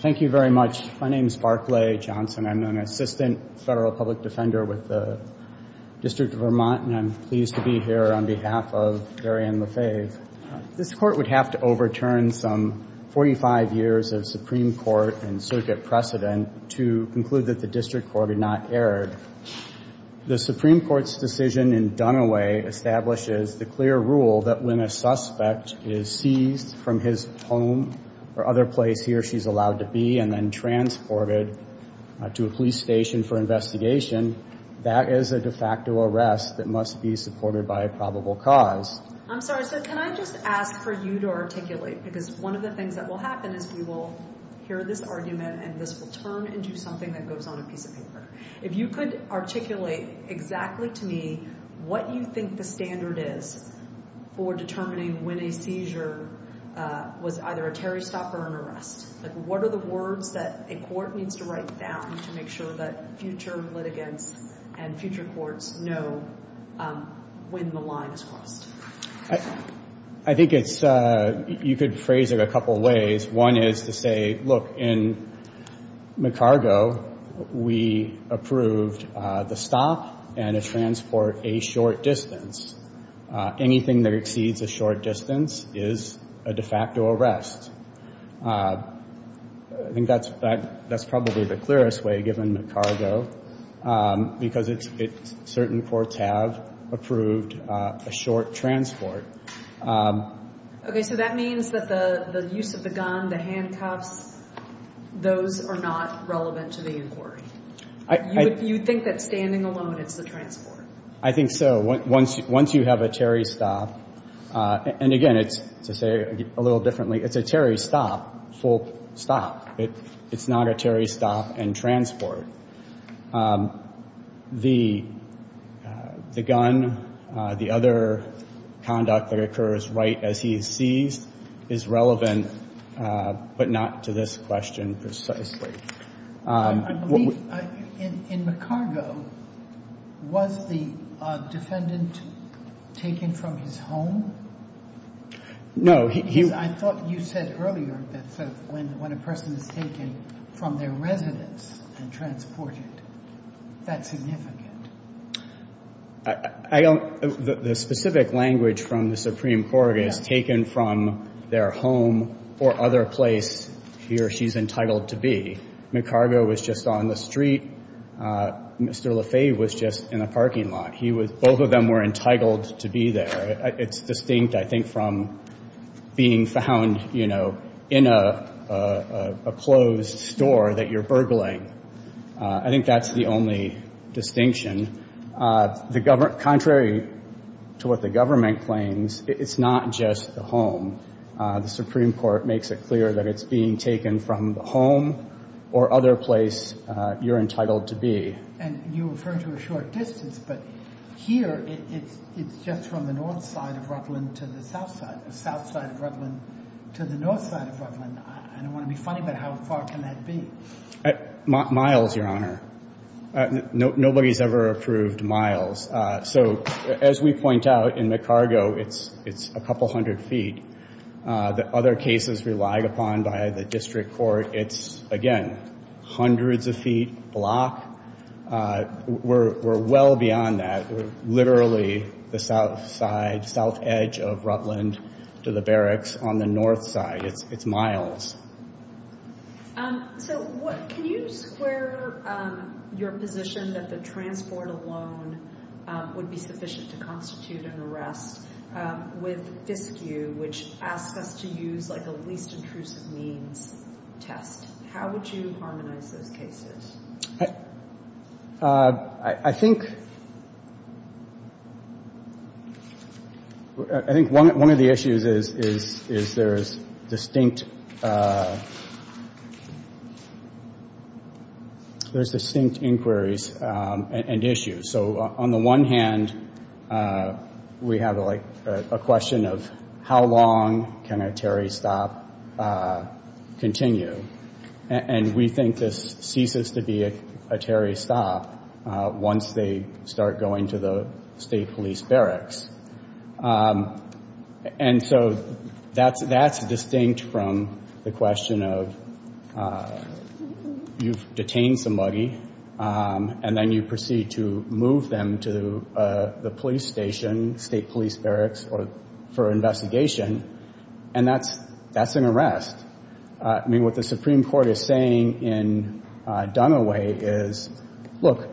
Thank you very much. My name is Barclay Johnson. I'm an assistant federal public defender with the District of Vermont and I'm pleased to be here on behalf of Varian Lefebvre. This court would have to overturn some 45 years of Supreme Court and circuit precedent to conclude that the District Court had not erred. The Supreme Court's decision in Dunaway establishes the clear rule that when a suspect is seized from his home or other place he or she's allowed to be and then transported to a police station for investigation, that is a de facto arrest that must be supported by a probable cause. I'm sorry, so can I just ask for you to articulate because one of the things that will happen is we will hear this argument and this will turn into something that goes on a seizure was either a Terry stop or an arrest. What are the words that a court needs to write down to make sure that future litigants and future courts know when the line is crossed? I think it's, you could phrase it a couple ways. One is to say, look, in McCargo we approved the use of the gun, the handcuffs, those are not relevant to the inquiry. You would think that standing away from a police station is a de facto arrest. I think that's probably the clearest way given McCargo because it's, certain courts have approved a short transport. Okay, so that means that the use of the gun, the handcuffs, those are not relevant to the inquiry. You would think that standing alone is the transport. I think so. Once you have a Terry stop, and again, to say it a little differently, it's a Terry stop, full stop. It's not a Terry stop and transport. The gun, the other conduct that occurs right as he sees is relevant but not to this question precisely. In McCargo, was the defendant taken from his home? No. I thought you said earlier that when a person is taken from their residence and transported, that's significant. I don't, the specific language from the Supreme Court is taken from their home or other place he or she is entitled to be. McCargo was just on the street. Mr. Lefebvre was just in the parking lot. He was, both of them were entitled to be there. It's distinct, I think, from being found, you know, in a closed store that you're burgling. I think that's the only distinction. The government, contrary to what the government claims, it's not just the home. The Supreme Court makes it clear that it's being taken from the home or other place you're entitled to be. And you refer to a short distance, but here, it's just from the north side of Rutland to the south side. The south side of Rutland to the north side of Rutland. I don't want to be funny, but how far can that be? Miles, Your Honor. Nobody's ever approved miles. So, as we point out, in McCargo, it's a couple hundred feet. The other cases relied upon by the district court, it's, again, hundreds of feet block. We're well beyond that. We're literally the south side, south edge of Rutland to the barracks on the north side. It's miles. So, can you square your position that the transport alone would be sufficient to constitute an arrest with FISCU, which asks us to use a least intrusive means test? How would you harmonize those cases? I think one of the issues is there's distinct inquiries and issues. So, on the one hand, we have a question of how long can a Terry stop continue? And we think this ceases to be a Terry stop once they start going to the state police barracks. And so, that's distinct from the question of you've detained somebody and then you proceed to move them to the police station, state police barracks for investigation. And that's an arrest. I mean, what the Supreme Court is saying in Dunaway is, look,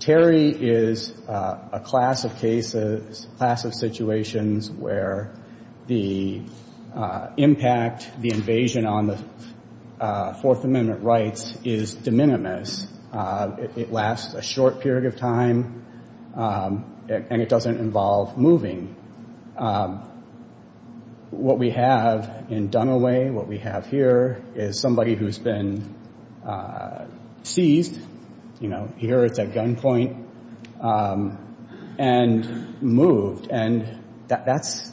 Terry is a class of cases, class of situations where the impact, the invasion on the Fourth Amendment rights is de minimis. It lasts a short period of time and it doesn't involve moving. What we have in Dunaway, what we have here, is somebody who's been seized, you know, here at that gunpoint, and moved. And that's,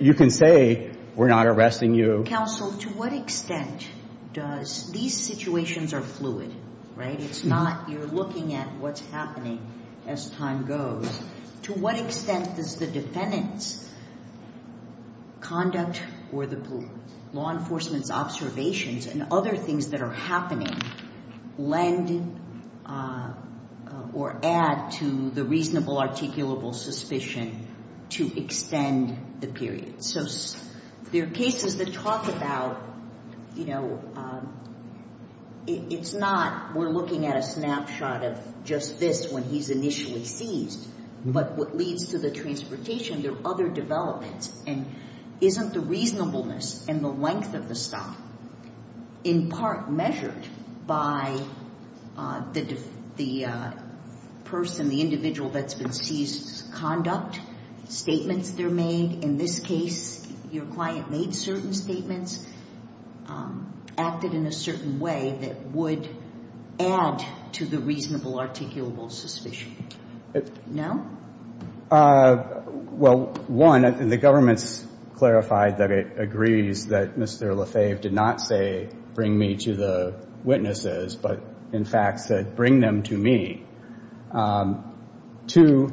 you can say we're not arresting you. Counsel, to what extent does, these situations are fluid, right? It's not, you're looking at what's happening as time goes. To what extent does the defendant's conduct or the law enforcement's observations and other things that are happening lend or add to the reasonable articulable suspicion to extend the period? So, there are cases that talk about, you know, it's not, we're looking at a snapshot of just this when he's initially seized. But what leads to the transportation, there are other developments. And isn't the reasonableness and the length of the stop, in part measured by the person, the individual that's been seized's conduct, statements they're made, in this case, your client made certain statements, acted in a certain way that would add to the reasonable articulable suspicion? No? Well, one, the government's clarified that it agrees that Mr. Lefebvre did not say, bring me to the witnesses, but in fact said, bring them to me. Two,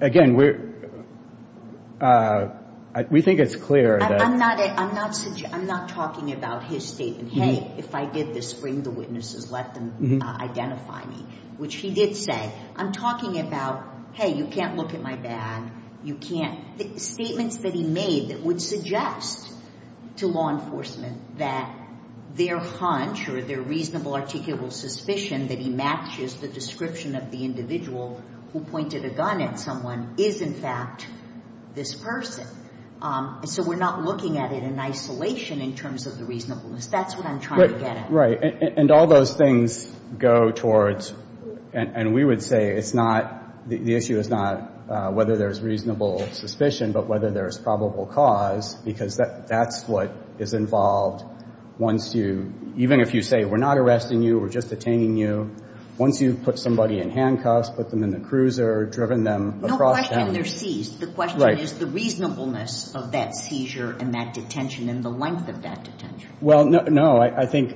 again, we think it's clear that... I'm not talking about his statement, hey, if I did this, bring the witnesses, let them identify me. Which he did say. I'm talking about, hey, you can't look at my bag, you can't... Statements that he made that would suggest to law enforcement that their hunch or their reasonable articulable suspicion that he matches the description of the individual who pointed a gun at someone is, in fact, this person. So, we're not looking at it in isolation in terms of the reasonableness. That's what I'm trying to get at. Right. And all those things go towards, and we would say it's not, the issue is not whether there's reasonable suspicion, but whether there's probable cause, because that's what is involved once you, even if you say we're not arresting you, we're just detaining you, once you've put somebody in handcuffs, put them in the cruiser, driven them across town... No question they're seized. The question is the reasonableness of that seizure and that detention and the length of that detention. Well, no, I think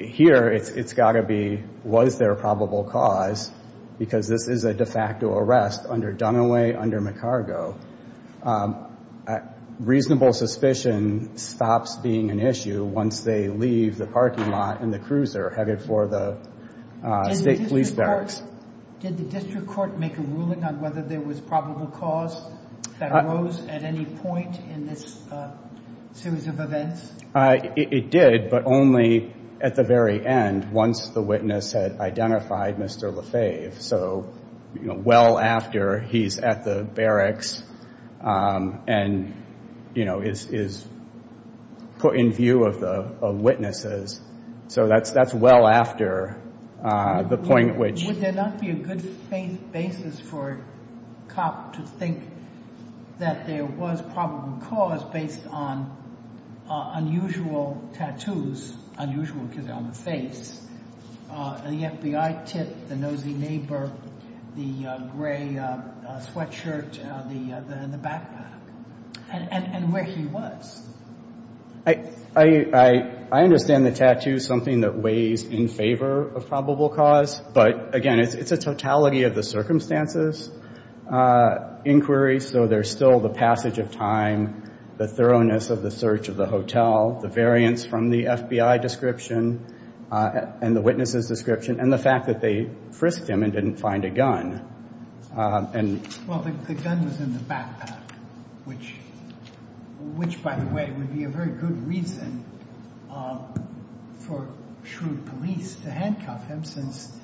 here it's got to be, was there a probable cause? Because this is a de facto arrest under Dunaway, under McCargo. Reasonable suspicion stops being an issue once they leave the parking lot and the cruiser headed for the state police barracks. Did the district court make a ruling on whether there was probable cause that arose at any point in this series of events? It did, but only at the very end, once the witness had identified Mr. Lefebvre. So, you know, well after he's at the barracks and, you know, is put in view of witnesses. So that's well after the point at which... Would there not be a good basis for a cop to think that there was probable cause based on unusual tattoos, unusual because they're on the face, the FBI tip, the nosy neighbor, the gray sweatshirt, the backpack, and where he was? I understand the tattoo is something that weighs in favor of probable cause, but again, it's a totality of the circumstances inquiry. So there's still the passage of time, the thoroughness of the search of the hotel, the variance from the FBI description and the witnesses description, and the fact that they frisked him and didn't find a gun. Well, the gun was in the backpack, which, by the way, would be a very good reason for shrewd police to handcuff him since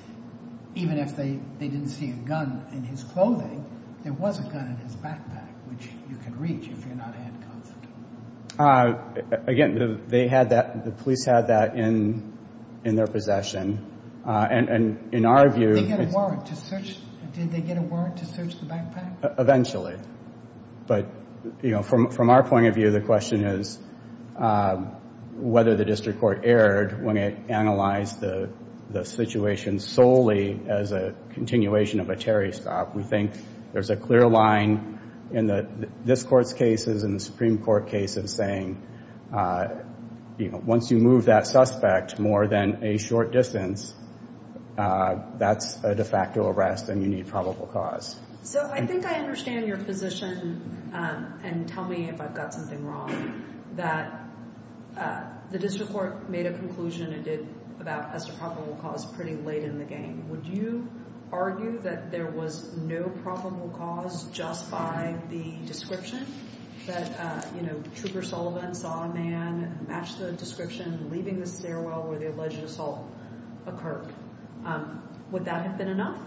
even if they didn't see a gun in his clothing, there was a gun in his backpack, which you can reach if you're not handcuffed. Again, the police had that in their possession, and in our view... Did they get a warrant to search the backpack? Eventually, but from our point of view, the question is whether the district court erred when it analyzed the situation solely as a continuation of a Terry stop. We think there's a clear line in this court's cases and the Supreme Court case of saying, once you move that suspect more than a short distance, that's a de facto arrest and you need probable cause. So I think I understand your position, and tell me if I've got something wrong, that the district court made a conclusion it did about as to probable cause pretty late in the game. Would you argue that there was no probable cause just by the description? That Trooper Sullivan saw a man, matched the description, leaving the stairwell where the alleged assault occurred. Would that have been enough?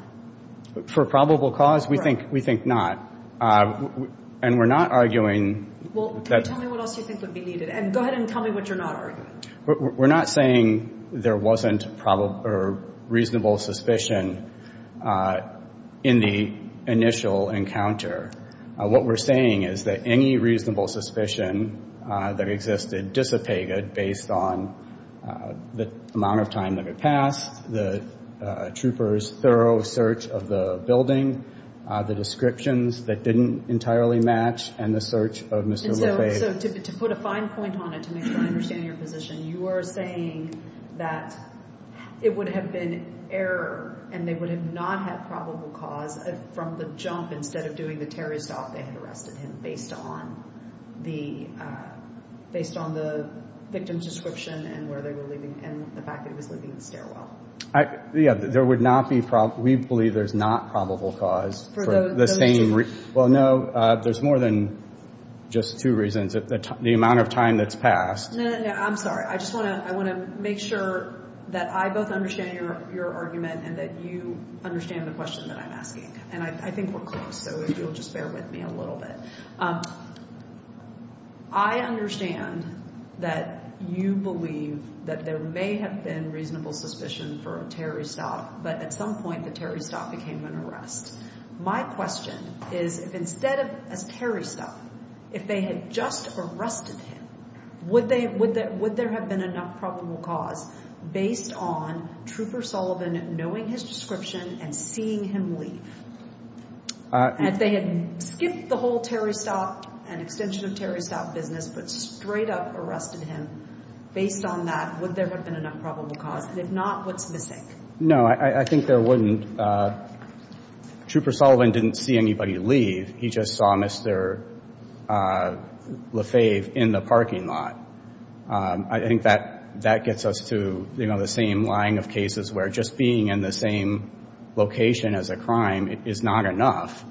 For probable cause? We think not. And we're not arguing... Well, can you tell me what else you think would be needed? And go ahead and tell me what you're not arguing. We're not saying there wasn't reasonable suspicion in the initial encounter. What we're saying is that any reasonable suspicion that existed dissipated based on the amount of time that had passed, the troopers' thorough search of the building, the descriptions that didn't entirely match, and the search of Mr. Lefebvre. So to put a fine point on it, to make sure I understand your position, you are saying that it would have been error and they would have not had probable cause from the jump, instead of doing the terrorist off, they had arrested him based on the victim's description and the fact that he was leaving the stairwell. Yeah, we believe there's not probable cause for the same reason. Well, no, there's more than just two reasons. The amount of time that's passed... No, no, no, I'm sorry. I just want to make sure that I both understand your argument and that you understand the question that I'm asking. And I think we're close, so if you'll just bear with me a little bit. I understand that you believe that there may have been reasonable suspicion for a terrorist off, but at some point the terrorist off became an arrest. My question is, if instead of a terrorist off, if they had just arrested him, would there have been enough probable cause based on Trooper Sullivan knowing his description and seeing him leave? If they had skipped the whole terrorist off and extension of terrorist off business, but straight up arrested him, based on that, would there have been enough probable cause? And if not, what's missing? No, I think there wouldn't. Trooper Sullivan didn't see anybody leave. He just saw Mr. Lefebvre in the parking lot. I think that gets us to the same line of cases where just being in the same location as a crime is not enough.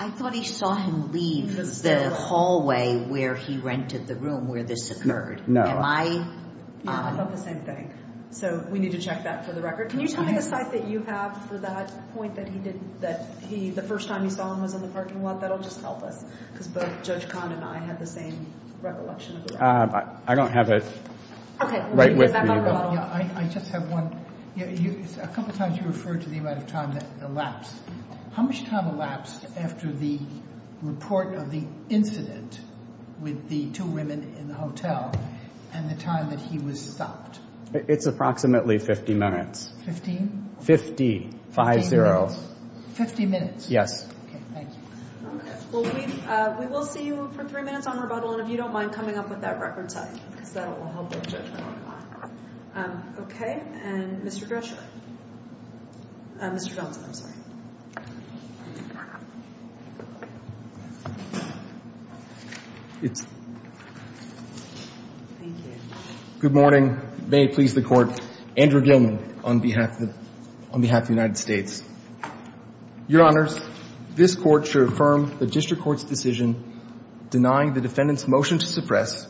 I thought he saw him leave the hallway where he rented the room where this occurred. No. Am I... I thought the same thing. So we need to check that for the record. Can you tell me the site that you have for that point that he did, that the first time he saw him was in the parking lot? That'll just help us. Because both Judge Kahn and I have the same recollection. I don't have it right with me. I just have one. A couple times you referred to the amount of time that elapsed. How much time elapsed after the report of the incident with the two women in the hotel and the time that he was stopped? It's approximately 50 minutes. Fifteen? Fifty. Five zero. Fifty minutes? Yes. Okay, thank you. Well, we will see you for three minutes on rebuttal, and if you don't mind coming up with that record set, because that will help with Judge Kahn. Okay, and Mr. Grisham. Mr. Johnson, I'm sorry. Thank you. Good morning. May it please the Court. Andrew Gilman on behalf of the United States. Your Honors, this Court shall affirm the District Court's decision denying the defendant's motion to suppress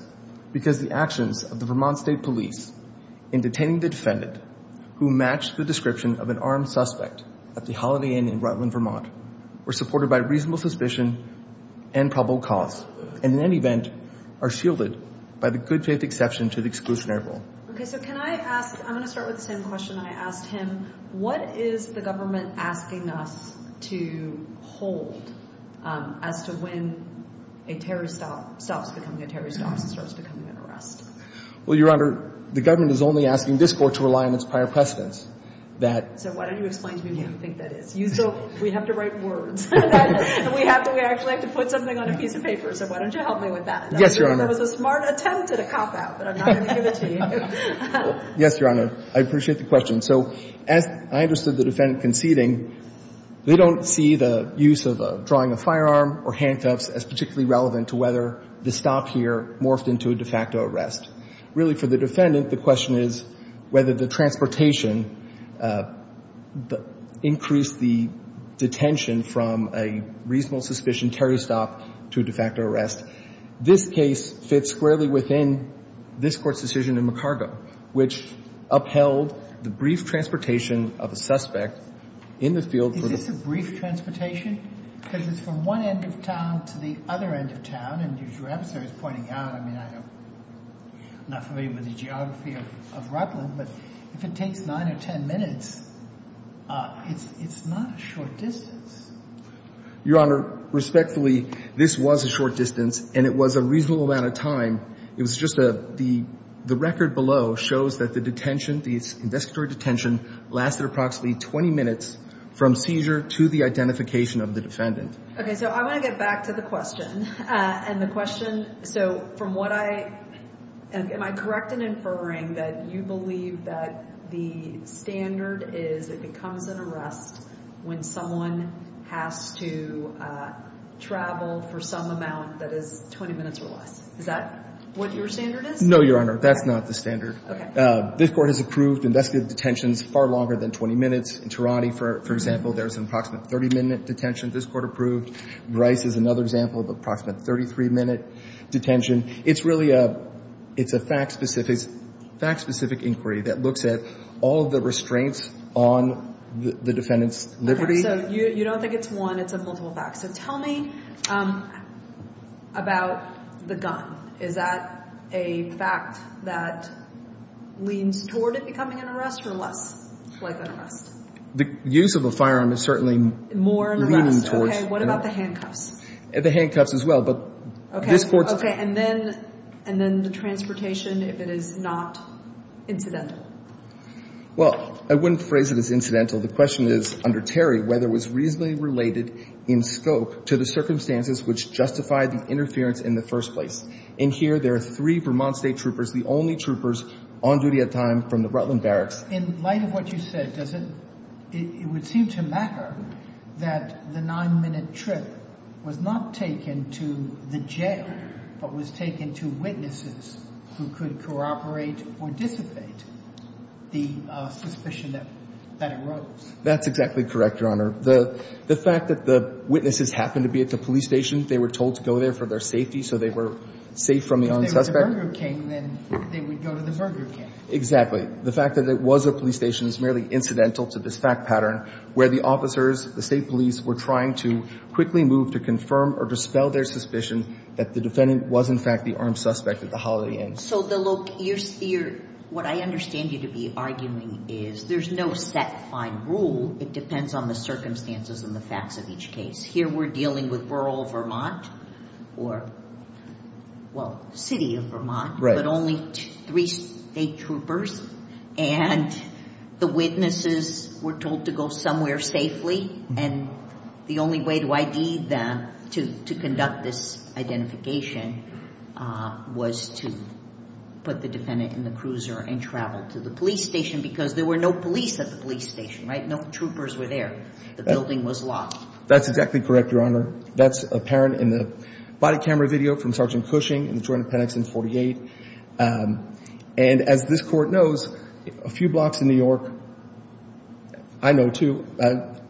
because the actions of the Vermont State Police in detaining the defendant, who matched the description of an armed suspect at the Holiday Inn in Rutland, Vermont, were supported by reasonable suspicion and probable cause, and in any event, are shielded by the good faith exception to the exclusionary rule. Okay, so can I ask, I'm going to start with the same question I asked him. What is the government asking us to hold as to when a terrorist stops becoming a terrorist officer and starts becoming an arrest? Well, Your Honor, the government is only asking this Court to rely on its prior precedence. So why don't you explain to me what you think that is? We have to write words. We actually have to put something on a piece of paper. So why don't you help me with that? Yes, Your Honor. That was a smart attempt at a cop-out, but I'm not going to give it to you. Yes, Your Honor. I appreciate the question. So as I understood the defendant conceding, they don't see the use of drawing a firearm or handcuffs as particularly relevant to whether the stop here morphed into a de facto arrest. Really, for the defendant, the question is whether the transportation increased the detention from a reasonable suspicion terrorist stop to a de facto arrest. This case fits squarely within this Court's decision in McCargo, which upheld the brief transportation of a suspect in the field for the... Is this a brief transportation? Because it's from one end of town to the other end of town, and as your adversary is pointing out, I mean, I'm not familiar with the geography of Rutland, but if it takes 9 or 10 minutes, it's not a short distance. Your Honor, respectfully, this was a short distance, and it was a reasonable amount of time. It was just a... The record below shows that the detention, the investigatory detention, lasted approximately 20 minutes from seizure to the identification of the defendant. Okay, so I want to get back to the question. And the question, so from what I... Am I correct in inferring that you believe that the standard is it becomes an arrest when someone has to travel for some amount that is 20 minutes or less? Is that what your standard is? No, Your Honor, that's not the standard. This Court has approved investigative detentions far longer than 20 minutes. In Tehrani, for example, there's an approximate 30-minute detention this Court approved. Bryce is another example of approximate 33-minute detention. It's really a... It's a fact-specific inquiry that looks at all the restraints on the defendant's liberty. Okay, so you don't think it's one, it's a multiple fact. So tell me about the gun. Is that a fact that leans toward it becoming an arrest or less like an arrest? The use of a firearm is certainly leaning towards... More an arrest, okay. What about the handcuffs? The handcuffs as well, but this Court's... Okay, and then the transportation, if it is not incidental? Well, I wouldn't phrase it as incidental. The question is, under Terry, whether it was reasonably related in scope to the circumstances which justified the interference in the first place. In here, there are three Vermont State troopers, the only troopers on duty at the time from the Rutland Barracks. In light of what you said, does it... ...that the nine-minute trip was not taken to the jail, but was taken to witnesses who could cooperate or dissipate the suspicion that arose? That's exactly correct, Your Honor. The fact that the witnesses happened to be at the police station, they were told to go there for their safety, so they were safe from the unsuspect... If they were the Burger King, then they would go to the Burger King. Exactly. The fact that it was a police station is merely incidental to this fact pattern, where the officers, the state police, were trying to quickly move to confirm or dispel their suspicion that the defendant was, in fact, the armed suspect at the Holiday Inn. So, look, what I understand you to be arguing is there's no set, fine rule. It depends on the circumstances and the facts of each case. Here, we're dealing with rural Vermont or, well, city of Vermont, but only three state troopers, and the witnesses were told to go somewhere safely. And the only way to ID them, to conduct this identification, was to put the defendant in the cruiser and travel to the police station because there were no police at the police station, right? No troopers were there. The building was locked. That's exactly correct, Your Honor. That's apparent in the body camera video from Sgt. Cushing in the Jordan-Pennington 48. And as this Court knows, a few blocks in New York, I know too,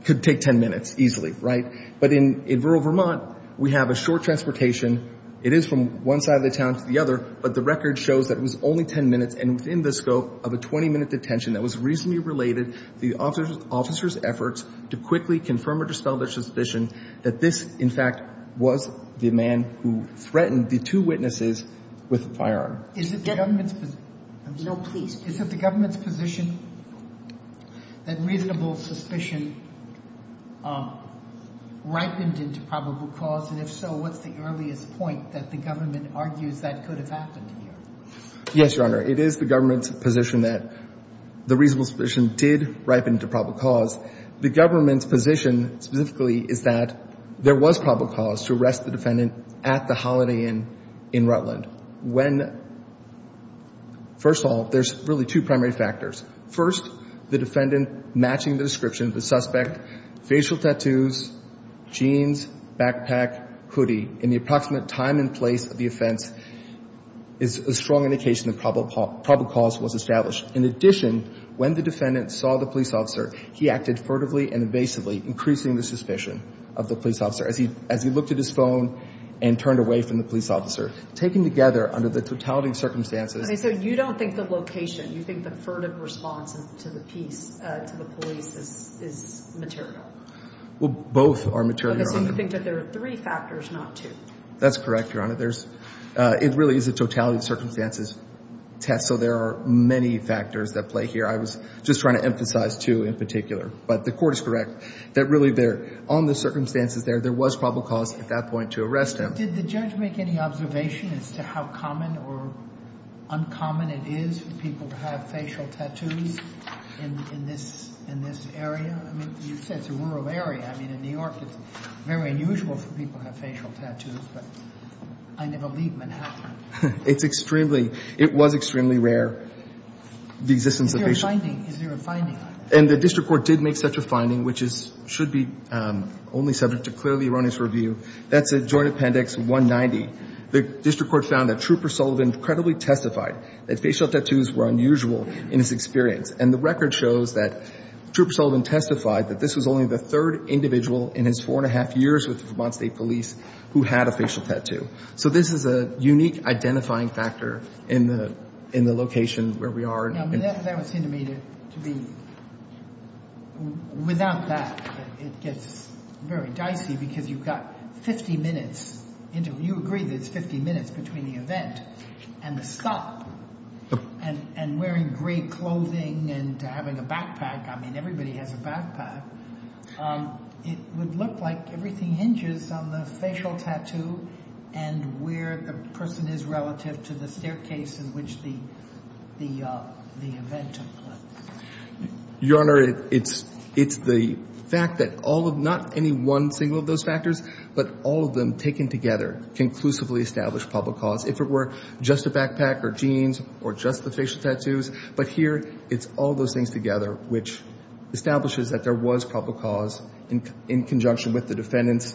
could take 10 minutes easily, right? But in rural Vermont, we have a short transportation. It is from one side of the town to the other, but the record shows that it was only 10 minutes, and within the scope of a 20-minute detention that was reasonably related to the officers' efforts to quickly confirm or dispel their suspicion that this, in fact, was the man who threatened the two witnesses with a firearm. Is it the government's position? No, please. Is it the government's position that reasonable suspicion ripened into probable cause? And if so, what's the earliest point that the government argues that could have happened here? Yes, Your Honor. It is the government's position that the reasonable suspicion did ripen into probable cause. The government's position specifically is that there was probable cause to arrest the defendant at the Holiday Inn in Rutland when, first of all, there's really two primary factors. First, the defendant matching the description of the suspect, facial tattoos, jeans, backpack, hoodie, and the approximate time and place of the offense is a strong indication that probable cause was established. In addition, when the defendant saw the police officer, he acted furtively and evasively, increasing the suspicion of the police officer. As he looked at his phone and turned away from the police officer, taken together under the totality of circumstances. So you don't think the location, you think the furtive response to the police is material? Well, both are material, Your Honor. So you think that there are three factors, not two? That's correct, Your Honor. It really is a totality of circumstances test. So there are many factors at play here. I was just trying to emphasize two in particular. But the court is correct that really there, on the circumstances there, there was probable cause at that point to arrest him. Did the judge make any observation as to how common or uncommon it is for people to have facial tattoos in this area? I mean, you said it's a rural area. I mean, in New York, it's very unusual for people to have facial tattoos. I never leave Manhattan. It's extremely, it was extremely rare, the existence of facial tattoos. Is there a finding? And the district court did make such a finding, which should be only subject to clearly erroneous review. That's at Joint Appendix 190. The district court found that Trooper Sullivan credibly testified that facial tattoos were unusual in his experience. And the record shows that Trooper Sullivan testified that this was only the third individual in his four and a half years with Vermont State Police who had a facial tattoo. So this is a unique identifying factor in the location where we are. That would seem to me to be, without that, it gets very dicey because you've got 50 minutes. You agree that it's 50 minutes between the event and the stop. And wearing gray clothing and having a backpack. I mean, everybody has a backpack. It would look like everything hinges on the facial tattoo and where the person is relative to the staircase in which the event took place. Your Honor, it's the fact that all of, not any one single of those factors, but all of them taken together conclusively establish public cause. If it were just a backpack or jeans or just the facial tattoos. But here, it's all those things together which establishes that there was public cause in conjunction with the defendant's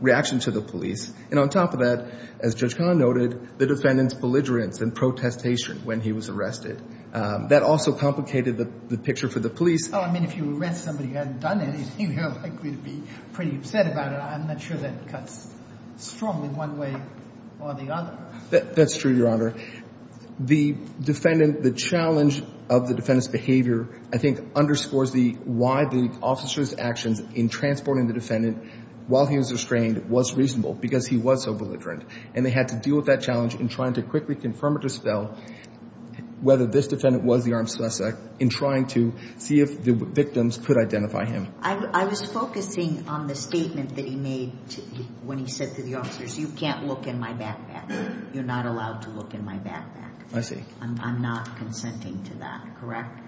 reaction to the police. And on top of that, as Judge Kahn noted, the defendant's belligerence and protestation when he was arrested. That also complicated the picture for the police. I mean, if you arrest somebody who hasn't done anything, you're likely to be pretty upset about it. I'm not sure that cuts strong in one way or the other. That's true, Your Honor. The defendant, the challenge of the defendant's behavior, I think, underscores the, why the officer's actions in transporting the defendant while he was restrained was reasonable because he was so belligerent. And they had to deal with that challenge in trying to quickly confirm or dispel whether this defendant was the armed suspect in trying to see if the victims could identify him. I was focusing on the statement that he made when he said to the officers, you can't look in my backpack. You're not allowed to look in my backpack. I see. I'm not consenting to that, correct?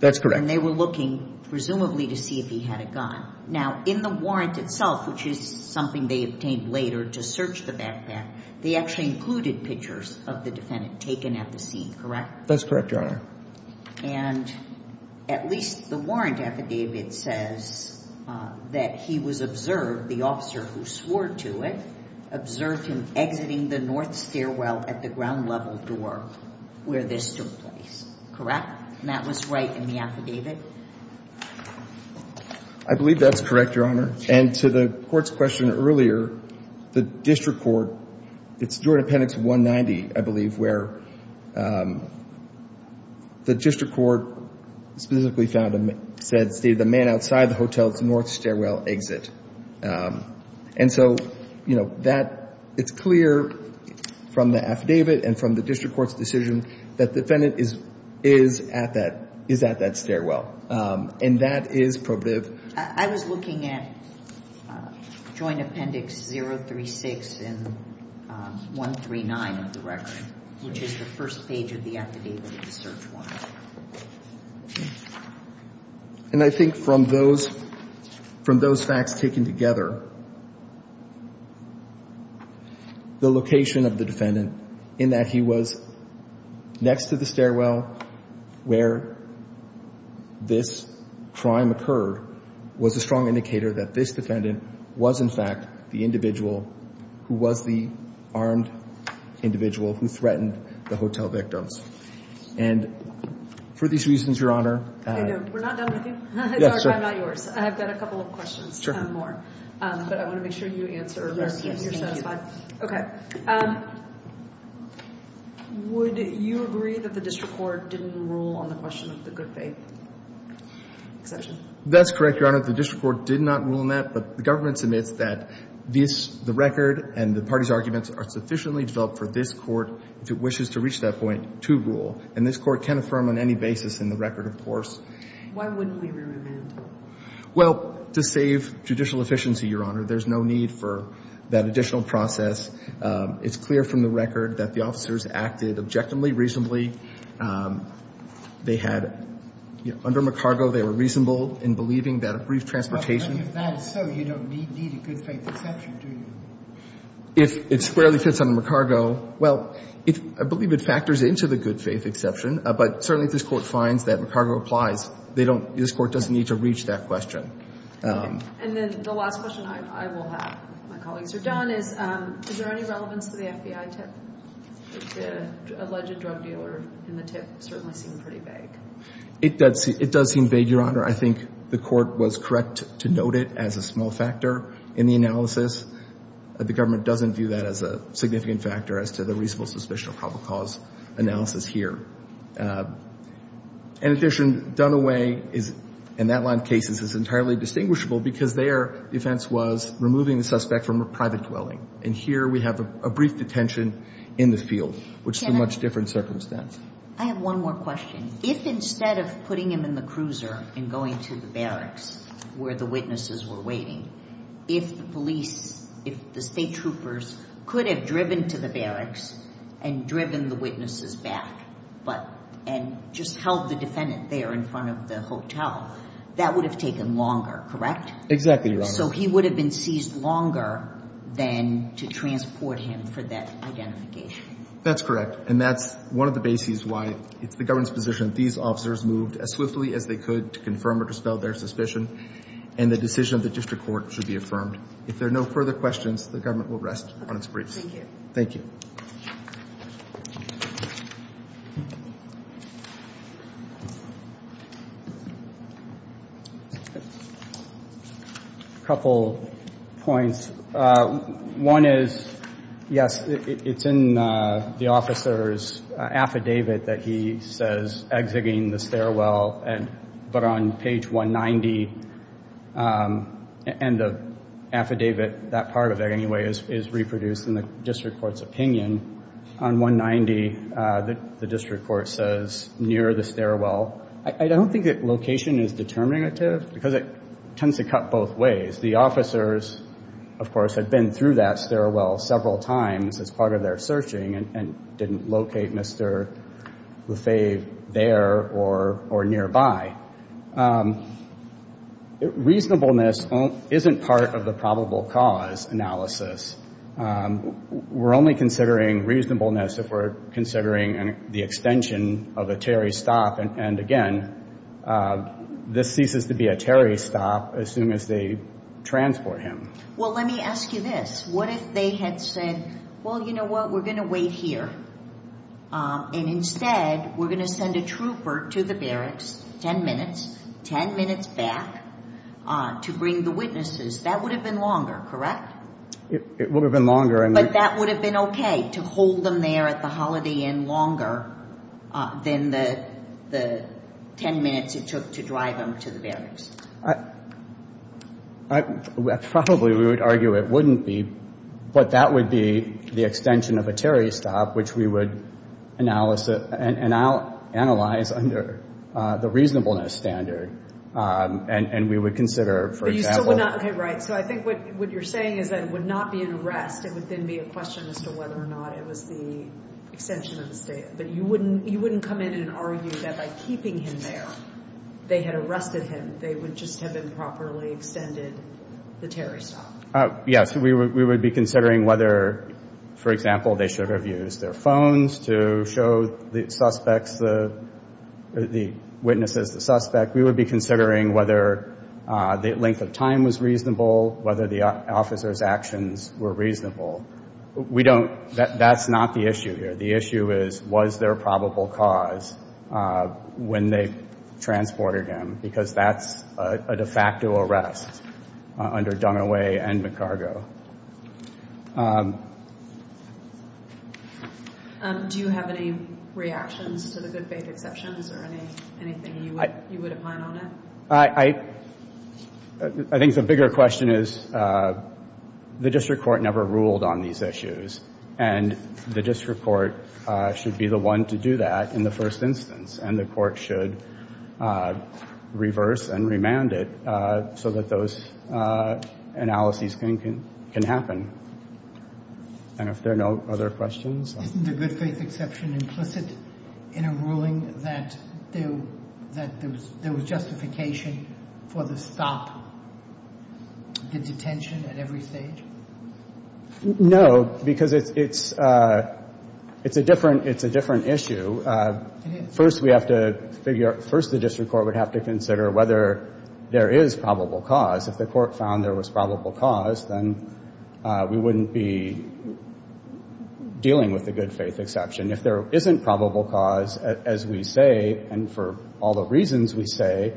That's correct. And they were looking, presumably, to see if he had a gun. Now, in the warrant itself, which is something they obtained later to search the backpack, they actually included pictures of the defendant taken at the scene, correct? That's correct, Your Honor. And at least the warrant affidavit says that he was observed, the officer who swore to it, observed him exiting the north stairwell at the ground level door where this took place, correct? And that was right in the affidavit? I believe that's correct, Your Honor. And to the court's question earlier, the district court, it's Jordan Appendix 190, I believe, where the district court specifically found and said, the man outside the hotel's north stairwell exit. And so, you know, it's clear from the affidavit and from the district court's decision that the defendant is at that stairwell. And that is probative. I was looking at Joint Appendix 036 and 139 of the record, which is the first page of the affidavit to search warrant. And I think from those facts taken together, the location of the defendant in that he was next to the stairwell where this crime occurred was a strong indicator that this defendant was, in fact, the individual who was the armed individual who threatened the hotel victims. And for these reasons, Your Honor, We're not done with you. I'm sorry, I'm not yours. I've got a couple of questions. Sure. But I want to make sure you answer them and you're satisfied. Okay. Would you agree that the district court didn't rule on the question of the good faith exception? That's correct, Your Honor. The district court did not rule on that, but the government submits that this, the record and the party's arguments are sufficiently developed for this court, if it wishes to reach that point, to rule. And this court can affirm on any basis in the record, of course. Why wouldn't we remand him? Well, to save judicial efficiency, Your Honor, there's no need for that additional process. It's clear from the record that the officers acted objectively, reasonably. They had, under McCargo, they were reasonable in believing that a brief transportation But if that is so, you don't need a good faith exception, do you? If it squarely fits under McCargo, well, I believe it factors into the good faith exception, but certainly if this court finds that McCargo applies, this court doesn't need to reach that question. And then the last question I will have, if my colleagues are done, is, is there any relevance to the FBI tip? The alleged drug dealer in the tip certainly seemed pretty vague. It does seem vague, Your Honor. I think the court was correct to note it as a small factor in the analysis. The government doesn't view that as a significant factor as to the reasonable suspicion of probable cause analysis here. In addition, Dunaway is, in that line of cases, is entirely distinguishable because their defense was removing the suspect from a private dwelling. And here we have a brief detention in the field, which is a much different circumstance. I have one more question. If instead of putting him in the cruiser and going to the barracks where the witnesses were waiting, if the police, if the state troopers could have driven to the barracks and driven the witnesses back and just held the defendant there in front of the hotel, that would have taken longer, correct? Exactly, Your Honor. So he would have been seized longer than to transport him for that identification. That's correct. And that's one of the bases why it's the government's position that these officers moved as swiftly as they could to confirm or dispel their suspicion. And the decision of the district court should be affirmed. If there are no further questions, the government will rest on its briefs. Thank you. Thank you. A couple points. One is, yes, it's in the officer's affidavit that he says, exiting the stairwell, but on page 190, and the affidavit, that part of it anyway, is reproduced in the district court's opinion. On 190, the district court says, near the stairwell. I don't think that location is determinative because it tends to cut both ways. The officers, of course, had been through that stairwell several times as part of their searching and didn't locate Mr. Lefebvre there or nearby. Reasonableness isn't part of the probable cause analysis. We're only considering reasonableness if we're considering the extension of a Terry stop. And again, this ceases to be a Terry stop as soon as they transport him. Well, let me ask you this. What if they had said, well, you know what, we're going to wait here. And instead, we're going to send a trooper to the barracks 10 minutes, 10 minutes back, to bring the witnesses. That would have been longer, correct? It would have been longer. But that would have been okay, to hold them there at the Holiday Inn longer than the 10 minutes it took to drive them to the barracks. Probably we would argue it wouldn't be. But that would be the extension of a Terry stop, which we would analyze under the reasonableness standard. And we would consider, for example... But you still would not, okay, right. So I think what you're saying is that it would not be an arrest. It would then be a question as to whether or not it was the extension of the stay. But you wouldn't come in and argue that by keeping him there, they had arrested him. They would just have improperly extended the Terry stop. Yes, we would be considering whether, for example, they should have used their phones to show the suspects, the witnesses, the suspect. We would be considering whether the length of time was reasonable, whether the officers' actions were reasonable. We don't, that's not the issue here. The issue is, was there a probable cause when they transported him? Because that's a de facto arrest under Dunaway and McCargo. Do you have any reactions to the good faith exceptions or anything you would opine on it? I think the bigger question is, the district court never ruled on these issues. And the district court should be the one to do that in the first instance. And the court should reverse and remand it so that those analyses can happen. And if there are no other questions? Isn't the good faith exception implicit in a ruling that there was justification for the stop, the detention at every stage? No, because it's a different issue. It is. First, we have to figure out, first the district court would have to consider whether there is probable cause. If the court found there was probable cause, then we wouldn't be dealing with the good faith exception. If there isn't probable cause, as we say, and for all the reasons we say,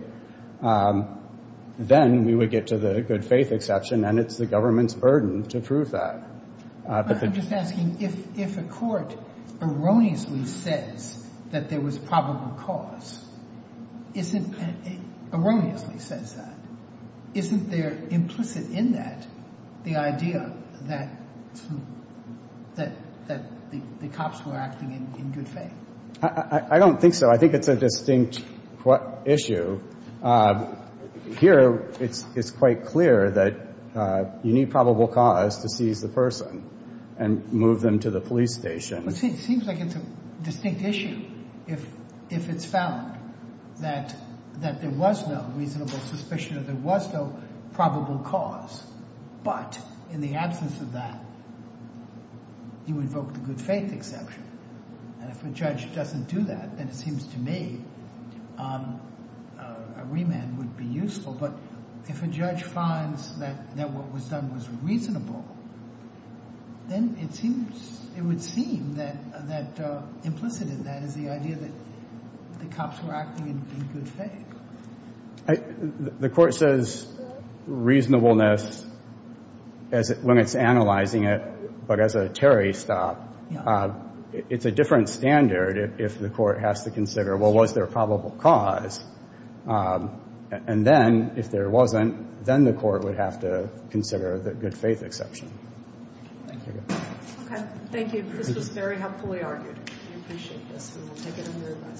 then we would get to the good faith exception, and it's the government's burden to prove that. I'm just asking, if a court erroneously says that there was probable cause, erroneously says that, isn't there implicit in that the idea that the cops were acting in good faith? I don't think so. I think it's a distinct issue. Here, it's quite clear that you need probable cause to seize the person and move them to the police station. It seems like it's a distinct issue if it's found that there was no reasonable suspicion or there was no probable cause, but in the absence of that, you invoke the good faith exception. If a judge doesn't do that, then it seems to me a remand would be useful, but if a judge finds that what was done was reasonable, then it would seem that implicit in that is the idea that the cops were acting in good faith. The court says reasonableness when it's analyzing it, but as a terrorist stop, it's a different standard if the court has to consider, well, was there a probable cause? And then, if there wasn't, then the court would have to consider the good faith exception. Thank you. Okay. Thank you. This was very helpfully argued. We appreciate this, and we'll take it under review.